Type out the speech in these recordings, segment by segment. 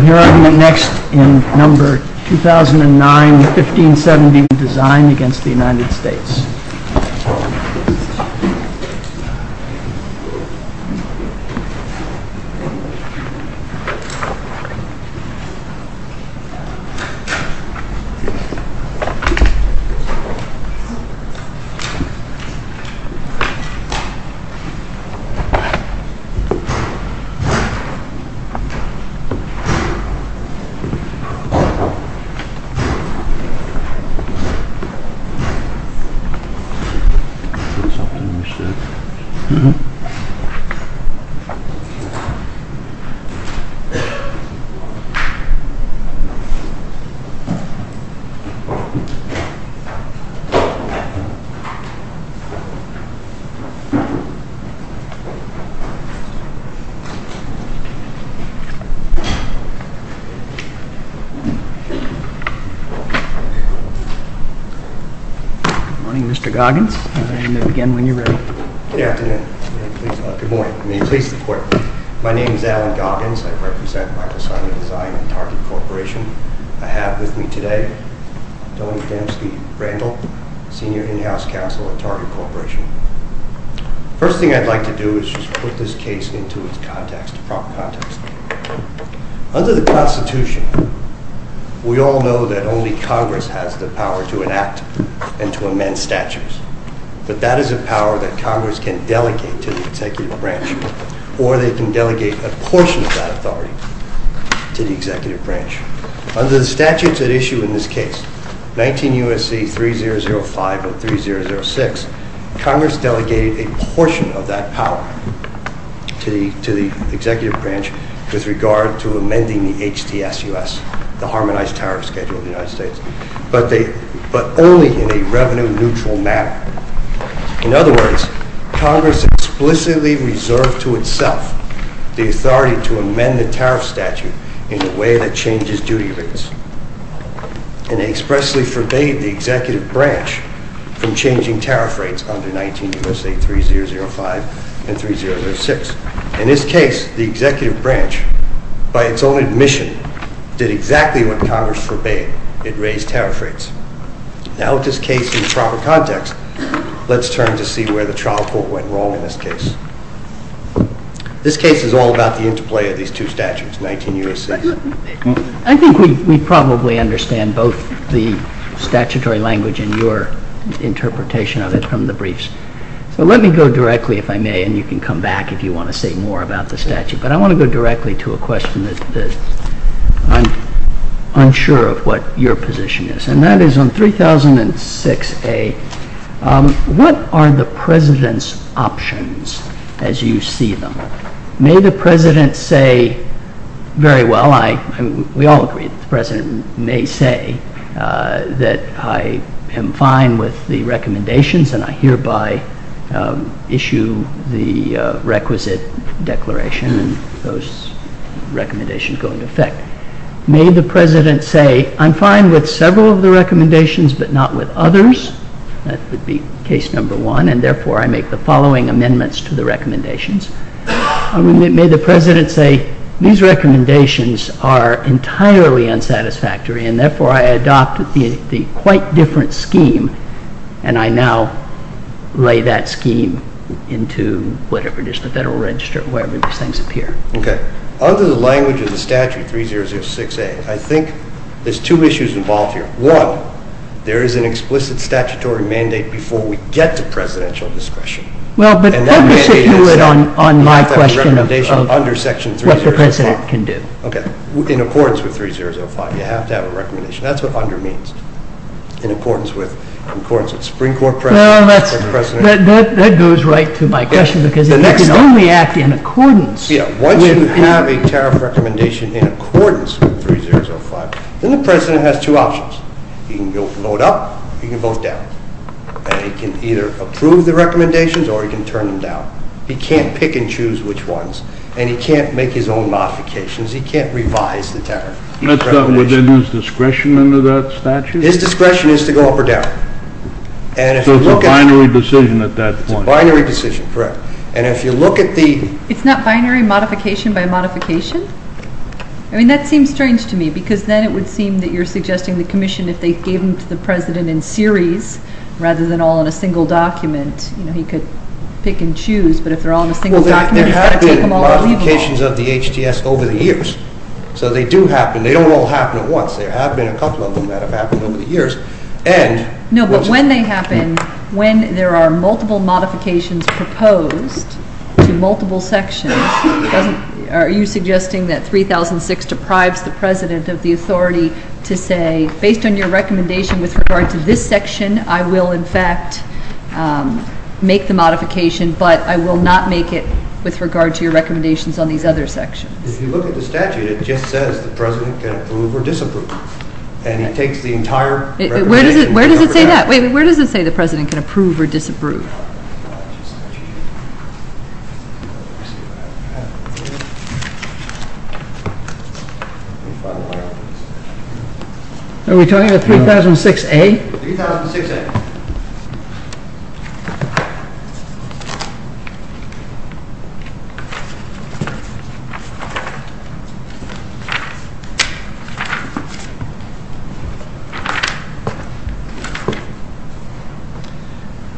Here next in number 2009 1570 design against the United States I have with me today, Donny Fenske-Brandl, Senior In-House Counsel at Target Corporation. The first thing I'd like to do is just put this case into its proper context. Under the Constitution, we all know that only Congress has the power to enact and to amend statutes. But that is a power that Congress can delegate to the Executive Branch, or they can delegate a portion of that authority to the Executive Branch. Under the statutes at issue in this case, 19 U.S.C. 3005 or 3006, Congress delegated a portion of that power to the Executive Branch with regard to amending the HTSUS, the Harmonized Tariff Schedule of the United States, but only in a revenue-neutral manner. In other words, Congress explicitly reserved to itself the authority to amend the tariff statute in a way that changes duty rates, and expressly forbade the Executive Branch from changing tariff rates under 19 U.S.C. 3005 and 3006. In this case, the Executive Branch, by its own admission, did exactly what Congress forbade. It raised tariff rates. Now with this case in proper context, let's turn to see where the trial court went wrong in this case. This case is all about the interplay of these two statutes, 19 U.S.C. I think we probably understand both the statutory language and your interpretation of it from the briefs. So let me go directly, if I may, and you can come back if you want to say more about the statute. But I want to go directly to a question that I'm unsure of what your position is. And that is on 3006A, what are the President's options as you see them? May the President say very well, we all agree that the President may say that I am fine with the recommendations and I hereby issue the requisite declaration and those recommendations go into effect. May the President say I'm fine with several of the recommendations but not with others? That would be case number one and therefore I make the following amendments to the recommendations. May the President say these recommendations are entirely unsatisfactory and therefore I adopt the quite different scheme and I now lay that scheme into whatever it is, the Federal Register, wherever these things appear. Okay, under the language of the statute 3006A, I think there's two issues involved here. One, there is an explicit statutory mandate before we get to presidential discretion. Well, but what does it do on my question of what the President can do? Okay, in accordance with 3005, you have to have a recommendation. That's what under means, in accordance with Supreme Court precedent. That goes right to my question because it can only act in accordance. Yeah, once you have a tariff recommendation in accordance with 3005, then the President has two options. He can go vote up or he can vote down and he can either approve the recommendations or he can turn them down. He can't pick and choose which ones and he can't make his own modifications. He can't revise the tariff. Would that lose discretion under that statute? His discretion is to go up or down. So it's a binary decision at that point. It's a binary decision, correct. And if you look at the… It's not binary modification by modification? I mean, that seems strange to me because then it would seem that you're suggesting the commission, if they gave them to the President in series rather than all in a single document, you know, he could pick and choose. But if they're all in a single document, he's got to take them all or leave them all. Well, there have been modifications of the HTS over the years. So they do happen. They don't all happen at once. There have been a couple of them that have happened over the years. No, but when they happen, when there are multiple modifications proposed to multiple sections, are you suggesting that 3006 deprives the President of the authority to say, based on your recommendation with regard to this section, I will in fact make the modification, but I will not make it with regard to your recommendations on these other sections? If you look at the statute, it just says the President can approve or disapprove. And it takes the entire recommendation. Where does it say that? Where does it say the President can approve or disapprove? Are we talking about 3006A? 3006A.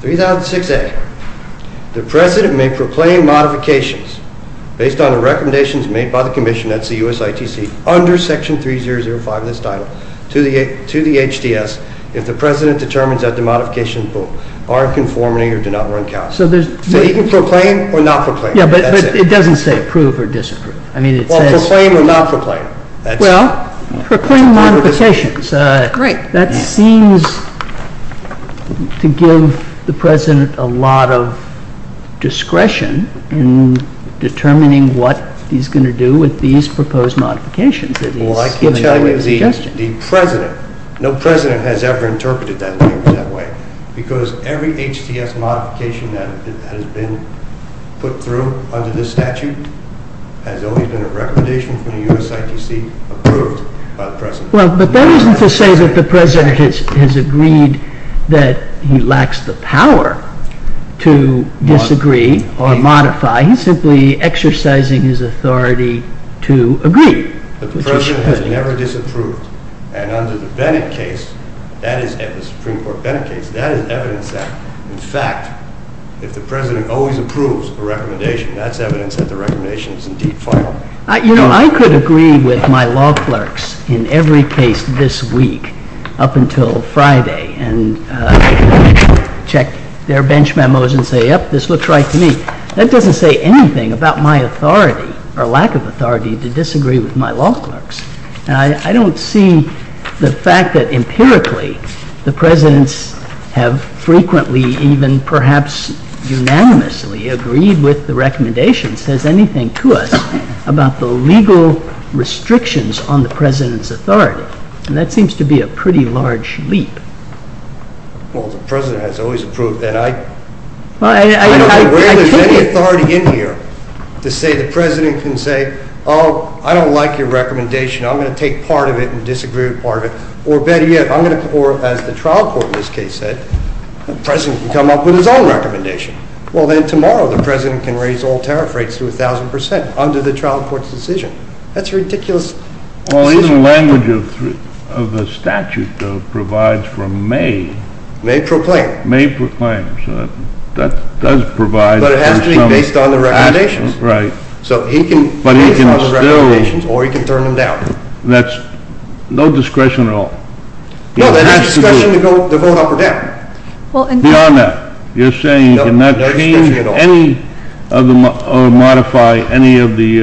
3006A. The President may proclaim modifications based on the recommendations made by the Commission, that's the USITC, under Section 3005 of this title to the HTS if the President determines that the modifications are in conformity or do not run callous. So he can proclaim or not proclaim. Yeah, but it doesn't say approve or disapprove. Well, proclaim or not proclaim. Well, proclaim modifications. That seems to give the President a lot of discretion in determining what he's going to do with these proposed modifications. Well, I can tell you, the President, no President has ever interpreted that name that way because every HTS modification that has been put through under this statute has always been a recommendation from the USITC approved by the President. Well, but that isn't to say that the President has agreed that he lacks the power to disagree or modify. He's simply exercising his authority to agree. But the President has never disapproved. And under the Bennett case, that is evidence, the Supreme Court Bennett case, that is evidence that, in fact, if the President always approves a recommendation, that's evidence that the recommendation is indeed final. You know, I could agree with my law clerks in every case this week up until Friday and check their bench memos and say, yep, this looks right to me. That doesn't say anything about my authority or lack of authority to disagree with my law clerks. I don't see the fact that empirically the Presidents have frequently, even perhaps unanimously, agreed with the recommendation says anything to us about the legal restrictions on the President's authority. And that seems to be a pretty large leap. Well, the President has always approved that. I don't think there's any authority in here to say the President can say, oh, I don't like your recommendation, I'm going to take part of it and disagree with part of it. Or, as the trial court in this case said, the President can come up with his own recommendation. Well, then tomorrow the President can raise all tariff rates to 1,000 percent under the trial court's decision. That's a ridiculous decision. Well, even the language of the statute provides for may. May proclaim. May proclaim. That does provide for some action. But it has to be based on the recommendations. Right. So he can base it on the recommendations or he can turn them down. That's no discretion at all. No, there's no discretion to vote up or down. Beyond that. You're saying you're not going to modify any of the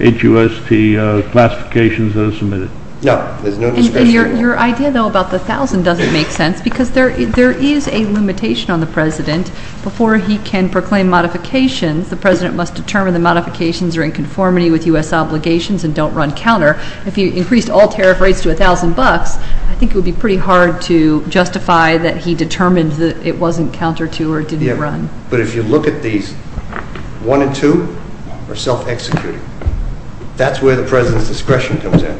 HUST classifications that are submitted. No, there's no discretion. Your idea, though, about the 1,000 doesn't make sense because there is a limitation on the President. Before he can proclaim modifications, the President must determine the modifications are in conformity with U.S. obligations and don't run counter. If he increased all tariff rates to 1,000 bucks, I think it would be pretty hard to justify that he determined that it wasn't counter to or didn't run. But if you look at these, 1 and 2 are self-executing. That's where the President's discretion comes in.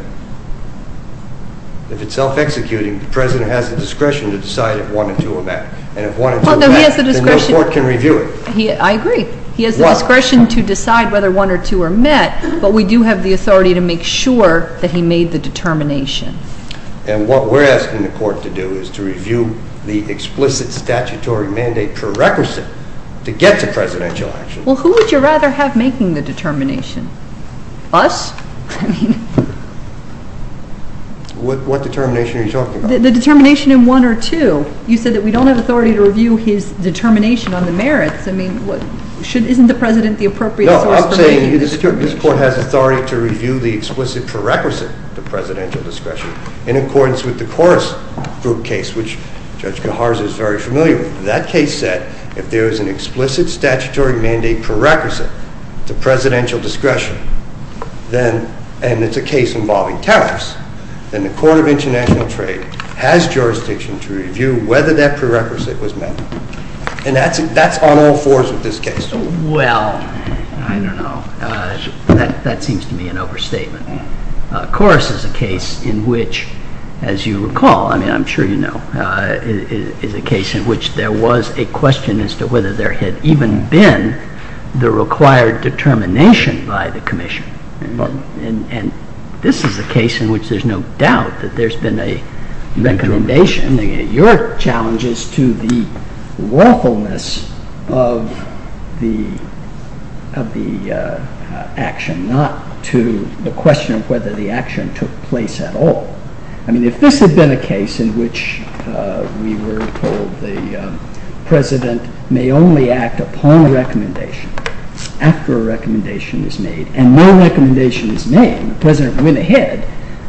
If it's self-executing, the President has the discretion to decide if 1 and 2 are met. And if 1 and 2 are met, then no court can review it. I agree. He has the discretion to decide whether 1 or 2 are met, but we do have the authority to make sure that he made the determination. And what we're asking the court to do is to review the explicit statutory mandate, prerequisite to get to presidential action. Well, who would you rather have making the determination? Us? What determination are you talking about? The determination in 1 or 2. You said that we don't have authority to review his determination on the merits. Isn't the President the appropriate source for making the determination? I mean, this court has authority to review the explicit prerequisite to presidential discretion in accordance with the Korres Group case, which Judge Gahars is very familiar with. That case said if there is an explicit statutory mandate prerequisite to presidential discretion, and it's a case involving tariffs, then the Court of International Trade has jurisdiction to review whether that prerequisite was met. And that's on all fours with this case. Well, I don't know. That seems to me an overstatement. Korres is a case in which, as you recall, I mean, I'm sure you know, is a case in which there was a question as to whether there had even been the required determination by the commission. And this is a case in which there's no doubt that there's been a recommendation, and your challenge is to the lawfulness of the action, not to the question of whether the action took place at all. I mean, if this had been a case in which we were told the President may only act upon a recommendation after a recommendation is made, and no recommendation is made, and the President went ahead,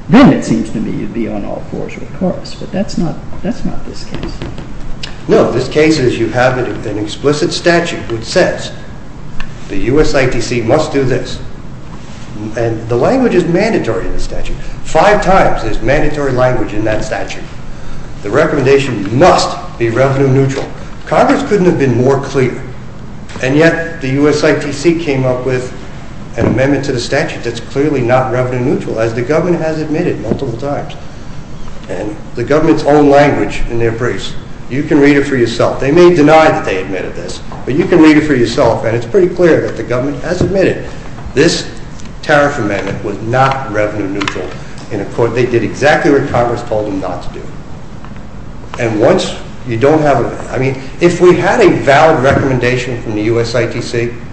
then it seems to me you'd be on all fours with Korres. But that's not this case. No, this case is you have an explicit statute which says the USITC must do this, and the language is mandatory in the statute. Five times there's mandatory language in that statute. The recommendation must be revenue neutral. Korres couldn't have been more clear, and yet the USITC came up with an amendment to the statute that's clearly not revenue neutral, as the government has admitted multiple times. And the government's own language in their briefs, you can read it for yourself. They may deny that they admitted this, but you can read it for yourself, and it's pretty clear that the government has admitted this tariff amendment was not revenue neutral. And, of course, they did exactly what Korres told them not to do. And once you don't have a, I mean, if we had a valid recommendation from the USITC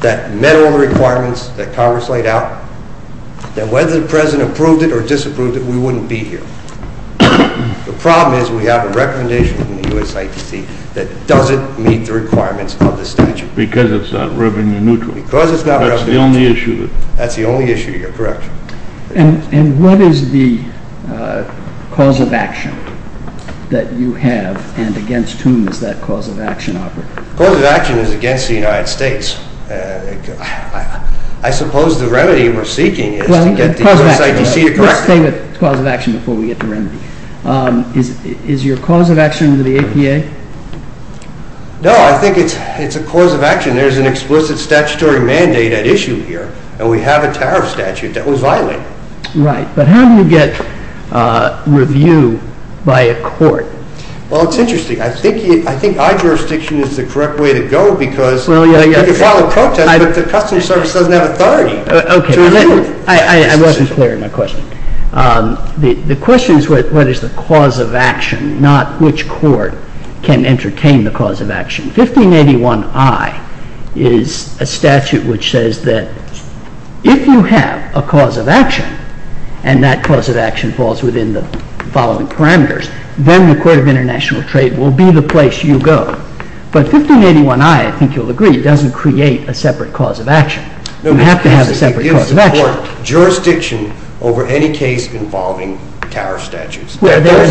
that met all the requirements that Korres laid out, then whether the president approved it or disapproved it, we wouldn't be here. The problem is we have a recommendation from the USITC that doesn't meet the requirements of the statute. Because it's not revenue neutral. Because it's not revenue neutral. That's the only issue. That's the only issue. You're correct. And what is the cause of action that you have, and against whom does that cause of action operate? The cause of action is against the United States. I suppose the remedy we're seeking is to get the USITC to correct it. Let's stay with cause of action before we get to remedy. Is your cause of action the APA? No, I think it's a cause of action. There's an explicit statutory mandate at issue here, and we have a tariff statute that was violated. Right, but how do you get review by a court? Well, it's interesting. I think our jurisdiction is the correct way to go because you can file a protest, but the customs service doesn't have authority to review. I wasn't clear in my question. The question is what is the cause of action, not which court can entertain the cause of action. 1581I is a statute which says that if you have a cause of action, and that cause of action falls within the following parameters, then the Court of International Trade will be the place you go. But 1581I, I think you'll agree, doesn't create a separate cause of action. You have to have a separate cause of action. It gives the court jurisdiction over any case involving tariff statutes. There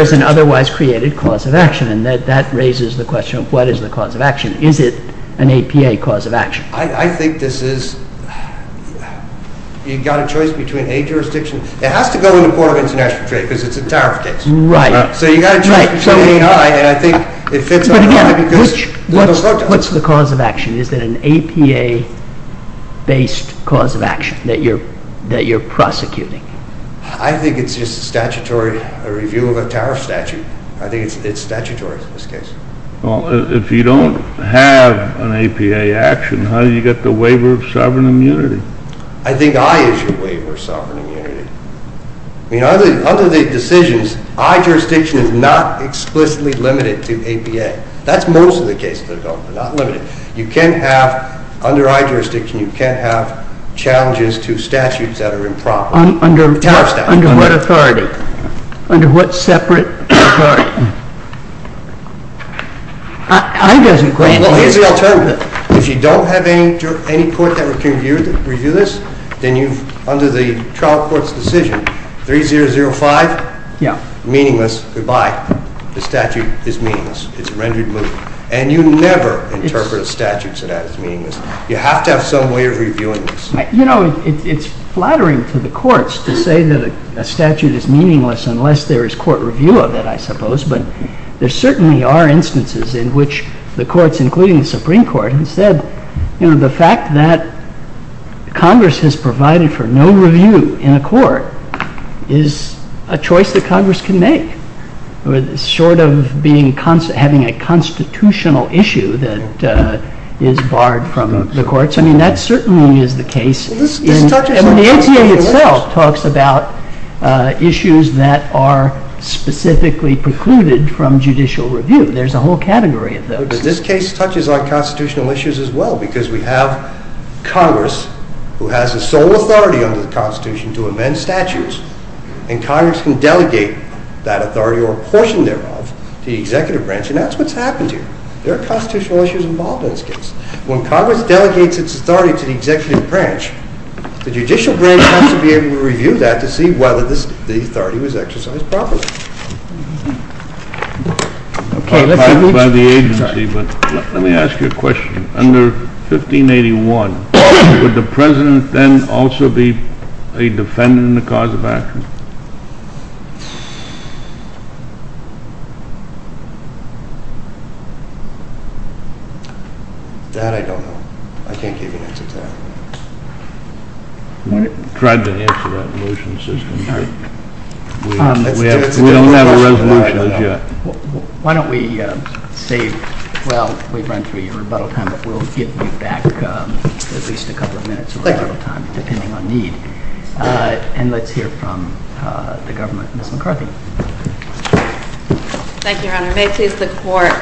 is an otherwise created cause of action, and that raises the question of what is the cause of action. Is it an APA cause of action? I think this is, you've got a choice between a jurisdiction. It has to go to the Court of International Trade because it's a tariff case. Right. So you've got a choice between 1581I, and I think it fits under 1581I. But again, what's the cause of action? Is it an APA-based cause of action that you're prosecuting? I think it's just a statutory review of a tariff statute. I think it's statutory in this case. Well, if you don't have an APA action, how do you get the waiver of sovereign immunity? I think I issue a waiver of sovereign immunity. I mean, under the decisions, I jurisdiction is not explicitly limited to APA. That's most of the cases that are not limited. You can't have, under I jurisdiction, you can't have challenges to statutes that are improper. Under what authority? Under what separate authority? I guess the question is… Well, here's the alternative. If you don't have any court that can review this, then under the trial court's decision, 3005, meaningless, goodbye. The statute is meaningless. It's rendered meaningless. And you never interpret a statute so that it's meaningless. You have to have some way of reviewing this. You know, it's flattering to the courts to say that a statute is meaningless unless there is court review of it, I suppose. But there certainly are instances in which the courts, including the Supreme Court, have said, you know, the fact that Congress has provided for no review in a court is a choice that Congress can make, short of having a constitutional issue that is barred from the courts. I mean, that certainly is the case. The ACA itself talks about issues that are specifically precluded from judicial review. There's a whole category of those. But this case touches on constitutional issues as well because we have Congress, who has the sole authority under the Constitution to amend statutes, and Congress can delegate that authority or a portion thereof to the executive branch, and that's what's happened here. There are constitutional issues involved in this case. When Congress delegates its authority to the executive branch, the judicial branch has to be able to review that to see whether the authority was exercised properly. Let me ask you a question. Under 1581, would the President then also be a defendant in the cause of action? That I don't know. I can't give you an answer to that. We haven't tried to answer that in the motion system yet. We don't have a resolution yet. Why don't we say, well, we've run through your rebuttal time, but we'll give you back at least a couple of minutes of rebuttal time, depending on need. And let's hear from the government. Thank you, Your Honor. May it please the Court.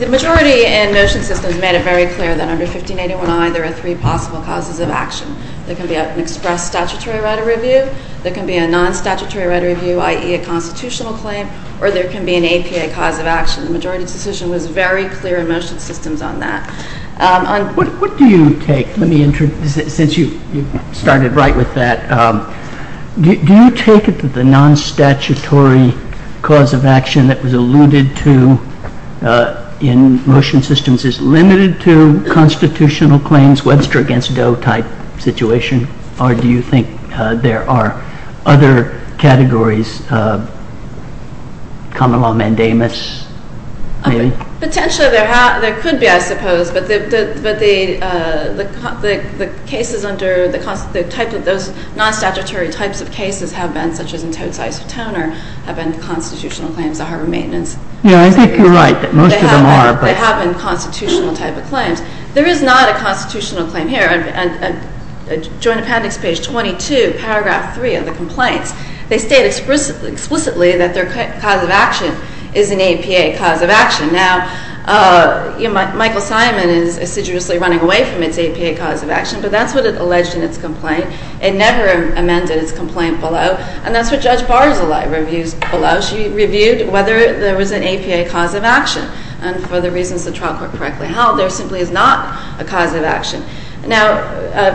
The majority in motion systems made it very clear that under 1581I, there are three possible causes of action. There can be an express statutory right of review. There can be a non-statutory right of review, i.e., a constitutional claim, or there can be an APA cause of action. The majority decision was very clear in motion systems on that. What do you take? Let me introduce it, since you started right with that. Do you take it that the non-statutory cause of action that was alluded to in motion systems is limited to constitutional claims, Webster against Doe-type situation, or do you think there are other categories, common law mandamus, maybe? Potentially there could be, I suppose, but the cases under the type of those non-statutory types of cases have been, such as in Tote's Isotoner, have been constitutional claims, the harbor maintenance. Yeah, I think you're right that most of them are. They have been constitutional type of claims. There is not a constitutional claim here. In Joint Appendix, page 22, paragraph 3 of the complaints, they state explicitly that their cause of action is an APA cause of action. Now, Michael Simon is assiduously running away from its APA cause of action, but that's what it alleged in its complaint. It never amended its complaint below, and that's what Judge Barzilay reviews below. She reviewed whether there was an APA cause of action, and for the reasons the trial court correctly held, there simply is not a cause of action. Now,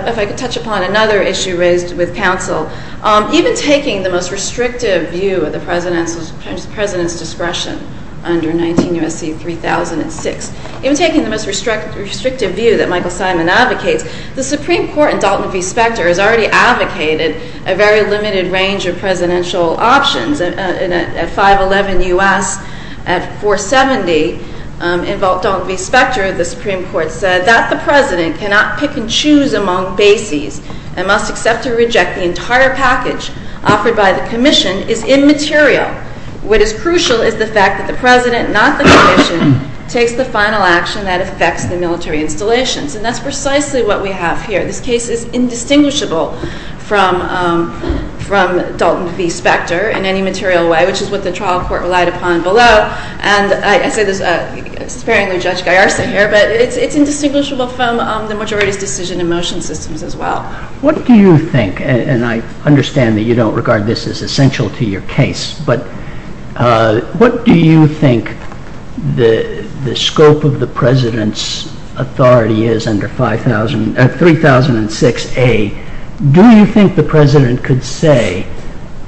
if I could touch upon another issue raised with counsel. Even taking the most restrictive view of the president's discretion under 19 U.S.C. 3006, even taking the most restrictive view that Michael Simon advocates, the Supreme Court in Dalton v. Specter has already advocated a very limited range of presidential options. At 511 U.S., at 470, in Dalton v. Specter, the Supreme Court said that the president cannot pick and choose among bases and must accept or reject the entire package offered by the commission is immaterial. What is crucial is the fact that the president, not the commission, takes the final action that affects the military installations. And that's precisely what we have here. This case is indistinguishable from Dalton v. Specter in any material way, which is what the trial court relied upon below. And I say this sparingly Judge Gallarza here, but it's indistinguishable from the majority's decision and motion systems as well. What do you think, and I understand that you don't regard this as essential to your case, but what do you think the scope of the president's authority is under 3006A? Do you think the president could say,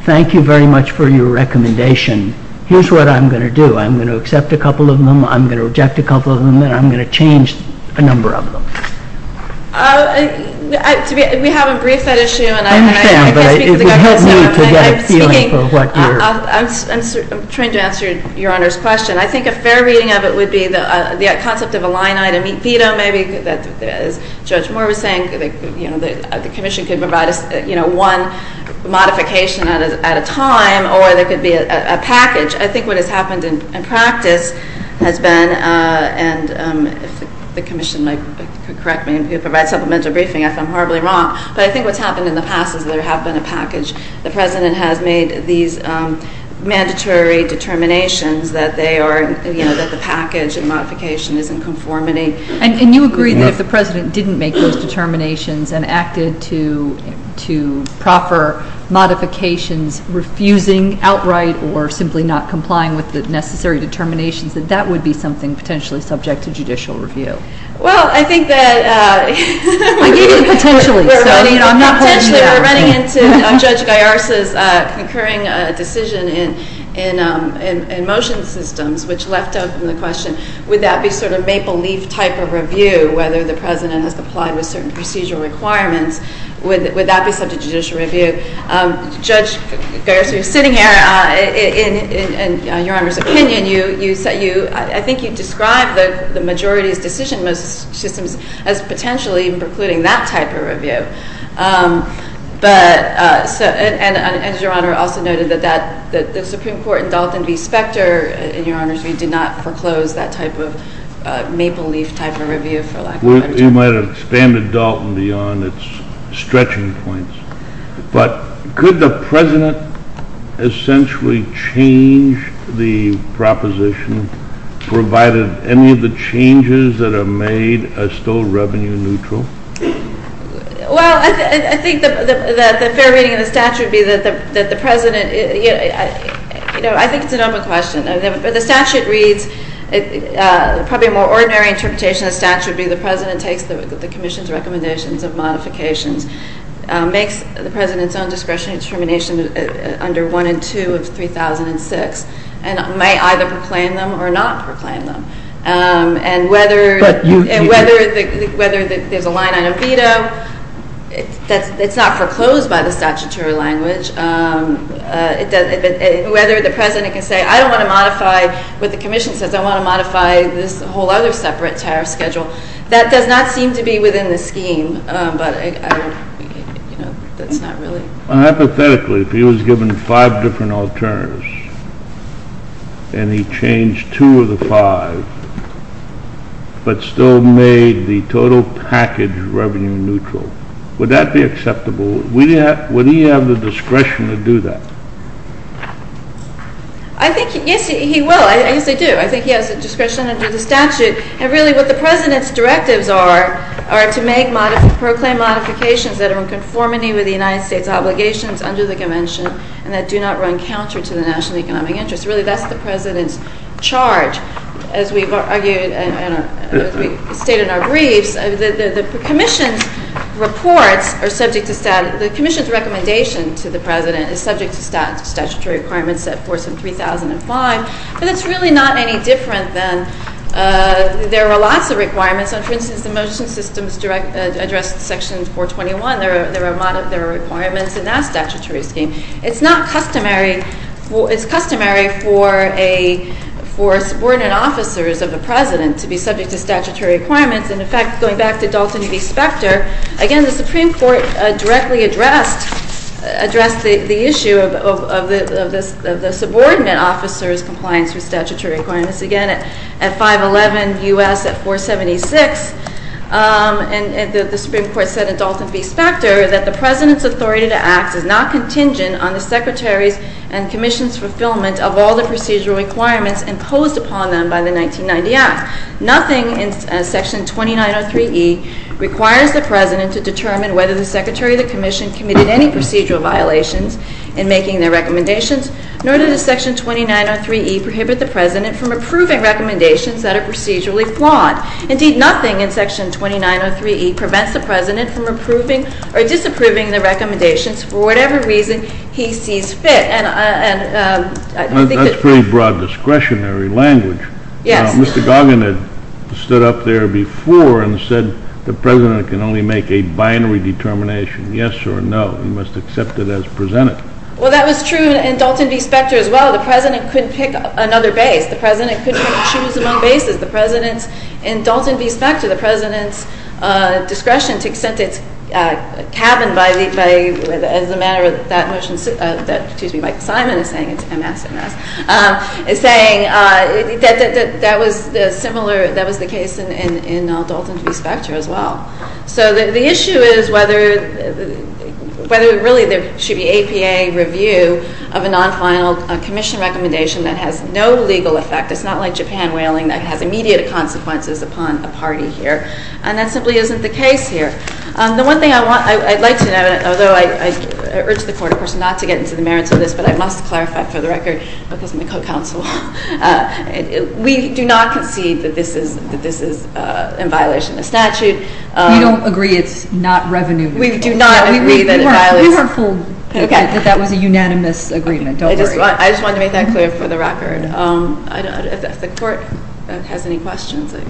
thank you very much for your recommendation, here's what I'm going to do. I'm going to accept a couple of them, I'm going to reject a couple of them, and I'm going to change a number of them? We haven't briefed that issue. I understand, but it would help me to get a feeling for what you're... I'm trying to answer Your Honor's question. I think a fair reading of it would be the concept of a line item veto maybe, as Judge Moore was saying, the commission could provide one modification at a time or there could be a package. I think what has happened in practice has been, and if the commission could correct me and provide supplemental briefing, I think I'm horribly wrong, but I think what's happened in the past is there have been a package. The president has made these mandatory determinations that they are, you know, that the package and modification is in conformity. And you agree that if the president didn't make those determinations and acted to proper modifications, refusing outright or simply not complying with the necessary determinations, that that would be something potentially subject to judicial review. Well, I think that... I gave you potentially. Potentially we're running into Judge Gallarza's concurring decision in motion systems, which left open the question, would that be sort of maple leaf type of review, whether the president has complied with certain procedural requirements, would that be subject to judicial review? Judge Gallarza, you're sitting here, in Your Honor's opinion, I think you described the majority's decision in motion systems as potentially precluding that type of review. And Your Honor also noted that the Supreme Court in Dalton v. Specter, in Your Honor's view, did not foreclose that type of maple leaf type of review for lack of better term. You might have expanded Dalton beyond its stretching points. But could the president essentially change the proposition, provided any of the changes that are made are still revenue neutral? Well, I think that the fair reading of the statute would be that the president... I think it's an open question. The statute reads, probably a more ordinary interpretation of the statute would be the president takes the commission's recommendations of modifications, makes the president's own discretionary determination under 1 and 2 of 3006, and may either proclaim them or not proclaim them. And whether there's a line on a veto, it's not foreclosed by the statutory language. Whether the president can say, I don't want to modify what the commission says, I want to modify this whole other separate tariff schedule, that does not seem to be within the scheme, but that's not really... Hypothetically, if he was given five different alternatives and he changed two of the five, but still made the total package revenue neutral, would that be acceptable? Would he have the discretion to do that? I think, yes, he will. Yes, I do. I think he has the discretion under the statute. And really what the president's directives are, are to make, proclaim modifications that are in conformity with the United States obligations under the convention and that do not run counter to the national economic interest. Really, that's the president's charge. As we've argued and as we state in our briefs, the commission's reports are subject to... The commission's recommendation to the president is subject to statutory requirements set forth in 3005, but it's really not any different than... There are lots of requirements. For instance, the motion systems address section 421. There are requirements in that statutory scheme. It's not customary... It's customary for subordinate officers of the president to be subject to statutory requirements. And, in fact, going back to Dalton v. Specter, again, the Supreme Court directly addressed the issue of the subordinate officer's compliance with statutory requirements, again, at 511 U.S. at 476. And the Supreme Court said in Dalton v. Specter that the president's authority to act is not contingent on the secretary's and commission's fulfillment of all the procedural requirements imposed upon them by the 1990 Act. Nothing in section 2903E requires the president to determine whether the secretary or the commission committed any procedural violations in making their recommendations, nor does section 2903E prohibit the president from approving recommendations that are procedurally flawed. Indeed, nothing in section 2903E prevents the president from approving or disapproving the recommendations for whatever reason he sees fit. And I think that... That's pretty broad discretionary language. Yes. Mr. Goggin had stood up there before and said the president can only make a binary determination, yes or no, and must accept it as presented. Well, that was true in Dalton v. Specter as well. The president couldn't pick another base. The president couldn't choose among bases. The president's... In Dalton v. Specter, the president's discretion to extend its cabin by the... Excuse me, Michael Simon is saying it's a massive mess. He's saying that was the similar... That was the case in Dalton v. Specter as well. So the issue is whether really there should be APA review of a non-final commission recommendation that has no legal effect. It's not like Japan whaling that has immediate consequences upon a party here. And that simply isn't the case here. The one thing I'd like to know, although I urge the court, of course, not to get into the merits of this, but I must clarify for the record, because I'm a co-counsel, we do not concede that this is in violation of statute. You don't agree it's not revenue? We do not agree that it violates... You were fooled that that was a unanimous agreement. Don't worry. I just wanted to make that clear for the record. If the court has any questions, I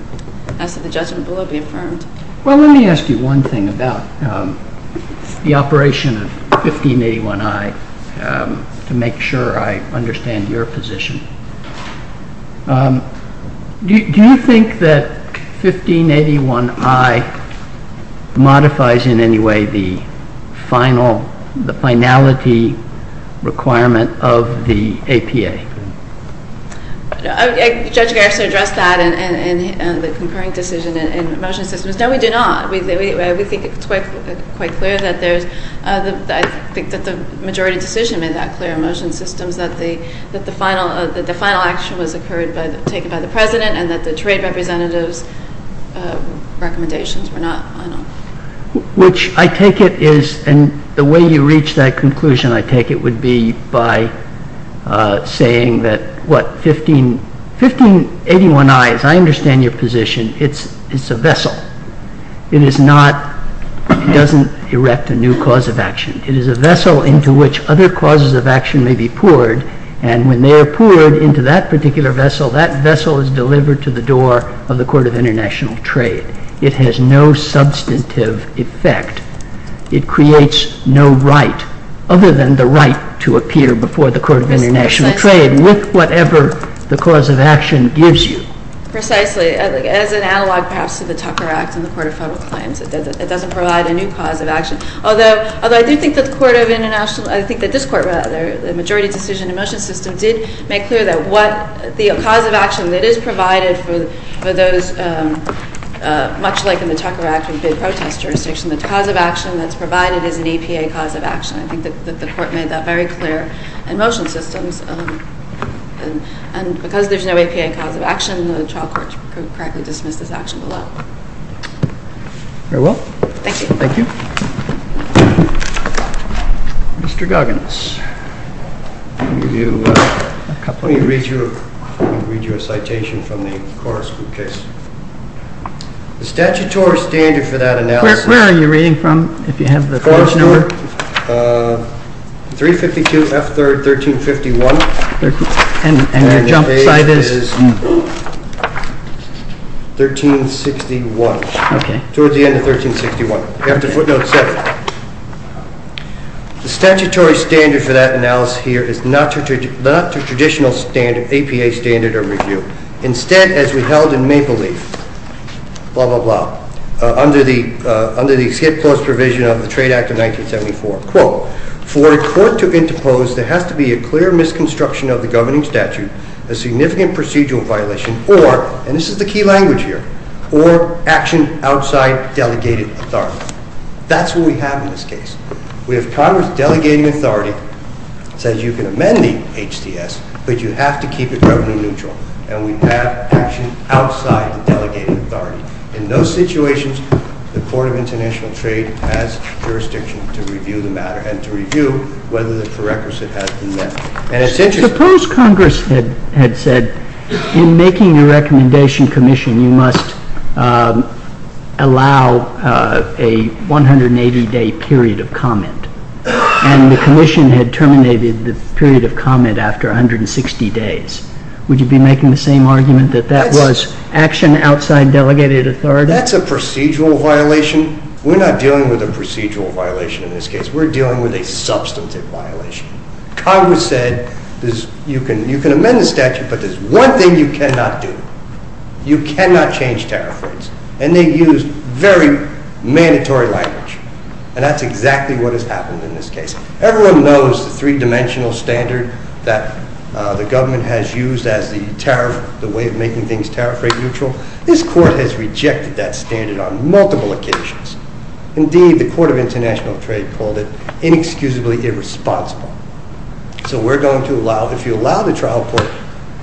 ask that the judgment below be affirmed. Well, let me ask you one thing about the operation of 1581I to make sure I understand your position. Do you think that 1581I modifies in any way the finality requirement of the APA? Judge Garrison addressed that in the concurring decision in motion systems. No, we do not. We think it's quite clear that there's... I think that the majority decision made that clear in motion systems, that the final action was taken by the President and that the trade representatives' recommendations were not final. Which I take it is... And the way you reach that conclusion, I take it, would be by saying that, what? 1581I, as I understand your position, it's a vessel. It is not... It doesn't erect a new cause of action. It is a vessel into which other causes of action may be poured, and when they are poured into that particular vessel, that vessel is delivered to the door of the Court of International Trade. It has no substantive effect. It creates no right, other than the right to appear before the Court of International Trade with whatever the cause of action gives you. Precisely. As an analog, perhaps, to the Tucker Act and the Court of Federal Claims, it doesn't provide a new cause of action. Although I do think that the Court of International... I think that this Court, rather, the majority decision in motion systems, did make clear that the cause of action that is provided for those, much like in the Tucker Act with bid protest jurisdiction, the cause of action that's provided is an EPA cause of action. I think that the Court made that very clear in motion systems. And because there's no EPA cause of action, the trial court could correctly dismiss this action below. Very well. Thank you. Thank you. Mr. Goggins. I'm going to read you a citation from the Corus Group case. The statutory standard for that analysis... Where are you reading from, if you have the page number? Corus Group, 352 F. 3rd, 1351. And your jump site is? Page is 1361. Okay. Towards the end of 1361. You have to footnote 7. The statutory standard for that analysis here is not the traditional APA standard or review. Instead, as we held in Maple Leaf, blah, blah, blah, under the skip clause provision of the Trade Act of 1974, quote, for a court to interpose, there has to be a clear misconstruction of the governing statute, a significant procedural violation, or, and this is the key language here, or action outside delegated authority. That's what we have in this case. We have Congress delegating authority, says you can amend the HDS, but you have to keep it government neutral. And we have action outside the delegated authority. In those situations, the Court of International Trade has jurisdiction to review the matter and to review whether the prerequisite has been met. Suppose Congress had said, in making the recommendation commission, you must allow a 180-day period of comment, and the commission had terminated the period of comment after 160 days. Would you be making the same argument that that was action outside delegated authority? That's a procedural violation. We're not dealing with a procedural violation in this case. We're dealing with a substantive violation. Congress said you can amend the statute, but there's one thing you cannot do. You cannot change tariff rates. And they used very mandatory language. And that's exactly what has happened in this case. Everyone knows the three-dimensional standard that the government has used as the tariff, the way of making things tariff rate neutral. This Court has rejected that standard on multiple occasions. Indeed, the Court of International Trade called it inexcusably irresponsible. So we're going to allow, if you allow the trial court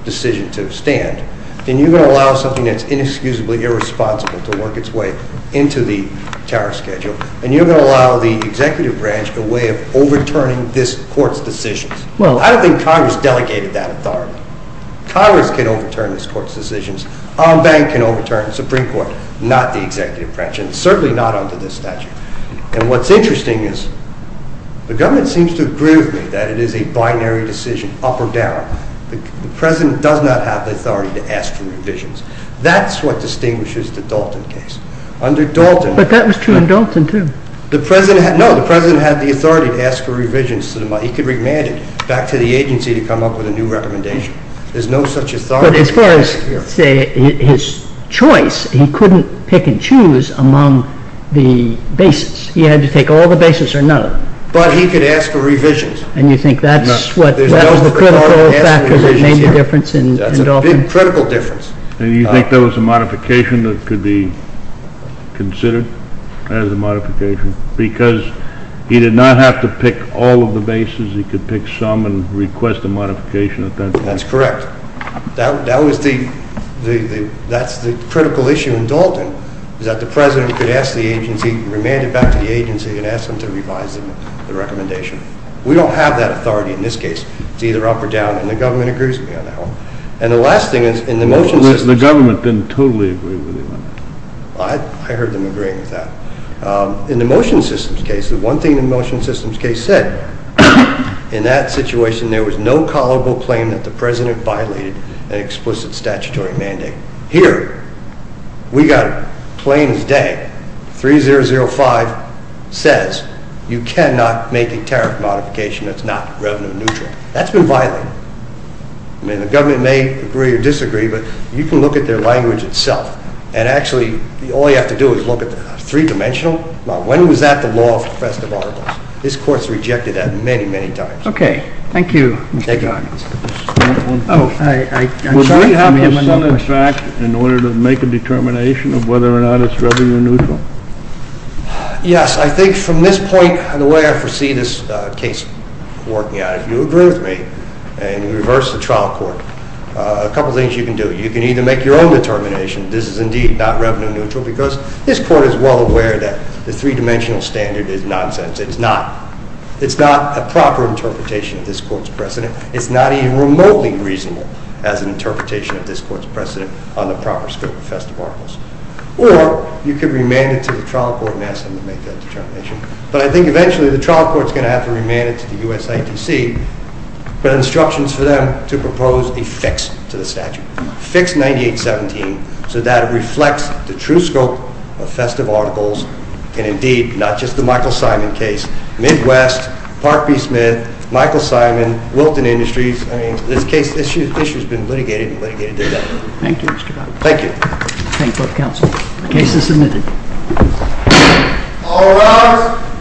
decision to stand, then you're going to allow something that's inexcusably irresponsible to work its way into the tariff schedule, and you're going to allow the executive branch a way of overturning this Court's decisions. Well, I don't think Congress delegated that authority. Congress can overturn this Court's decisions. Our bank can overturn, the Supreme Court, not the executive branch, and certainly not under this statute. And what's interesting is the government seems to agree with me that it is a binary decision, up or down. The President does not have the authority to ask for revisions. That's what distinguishes the Dalton case. But that was true in Dalton, too. No, the President had the authority to ask for revisions to the money. He could remand it back to the agency to come up with a new recommendation. There's no such authority. But as far as, say, his choice, he couldn't pick and choose among the bases. He had to take all the bases or none of them. But he could ask for revisions. And you think that's the critical factor that made the difference in Dalton? That's a big, critical difference. And you think there was a modification that could be considered as a modification? Because he did not have to pick all of the bases. He could pick some and request a modification at that point. That's correct. That's the critical issue in Dalton, is that the President could ask the agency, remand it back to the agency, and ask them to revise the recommendation. We don't have that authority in this case. It's either up or down. And the government agrees with me on that one. And the last thing is, in the motion systems case... The government didn't totally agree with you on that. I heard them agreeing with that. In the motion systems case, the one thing the motion systems case said, in that situation, there was no callable claim that the President violated an explicit statutory mandate. Here, we got it plain as day. 3.005 says you cannot make a tariff modification that's not revenue neutral. That's been violated. The government may agree or disagree, but you can look at their language itself. And actually, all you have to do is look at the three-dimensional. When was that the law for the rest of our laws? This Court has rejected that many, many times. Okay. Thank you. Oh, I'm sorry. Yes, I think from this point, the way I foresee this case working out, if you agree with me, and you reverse the trial court, a couple of things you can do. You can either make your own determination, this is indeed not revenue neutral, because this Court is well aware that the three-dimensional standard is nonsense. It's not. It's not a proper interpretation of this Court's precedent. It's not even remotely reasonable as an interpretation of this Court's precedent on the proper scope of festive articles. Or you could remand it to the trial court and ask them to make that determination. But I think eventually the trial court is going to have to remand it to the USITC with instructions for them to propose a fix to the statute. Fix 9817 so that it reflects the true scope of festive articles, and indeed, not just the Michael Simon case, Midwest, Park B. Smith, Michael Simon, Wilton Industries. I mean, this issue has been litigated and litigated to death. Thank you, Mr. Bogdanoff. Thank you. I thank both counsel. The case is submitted. All rise.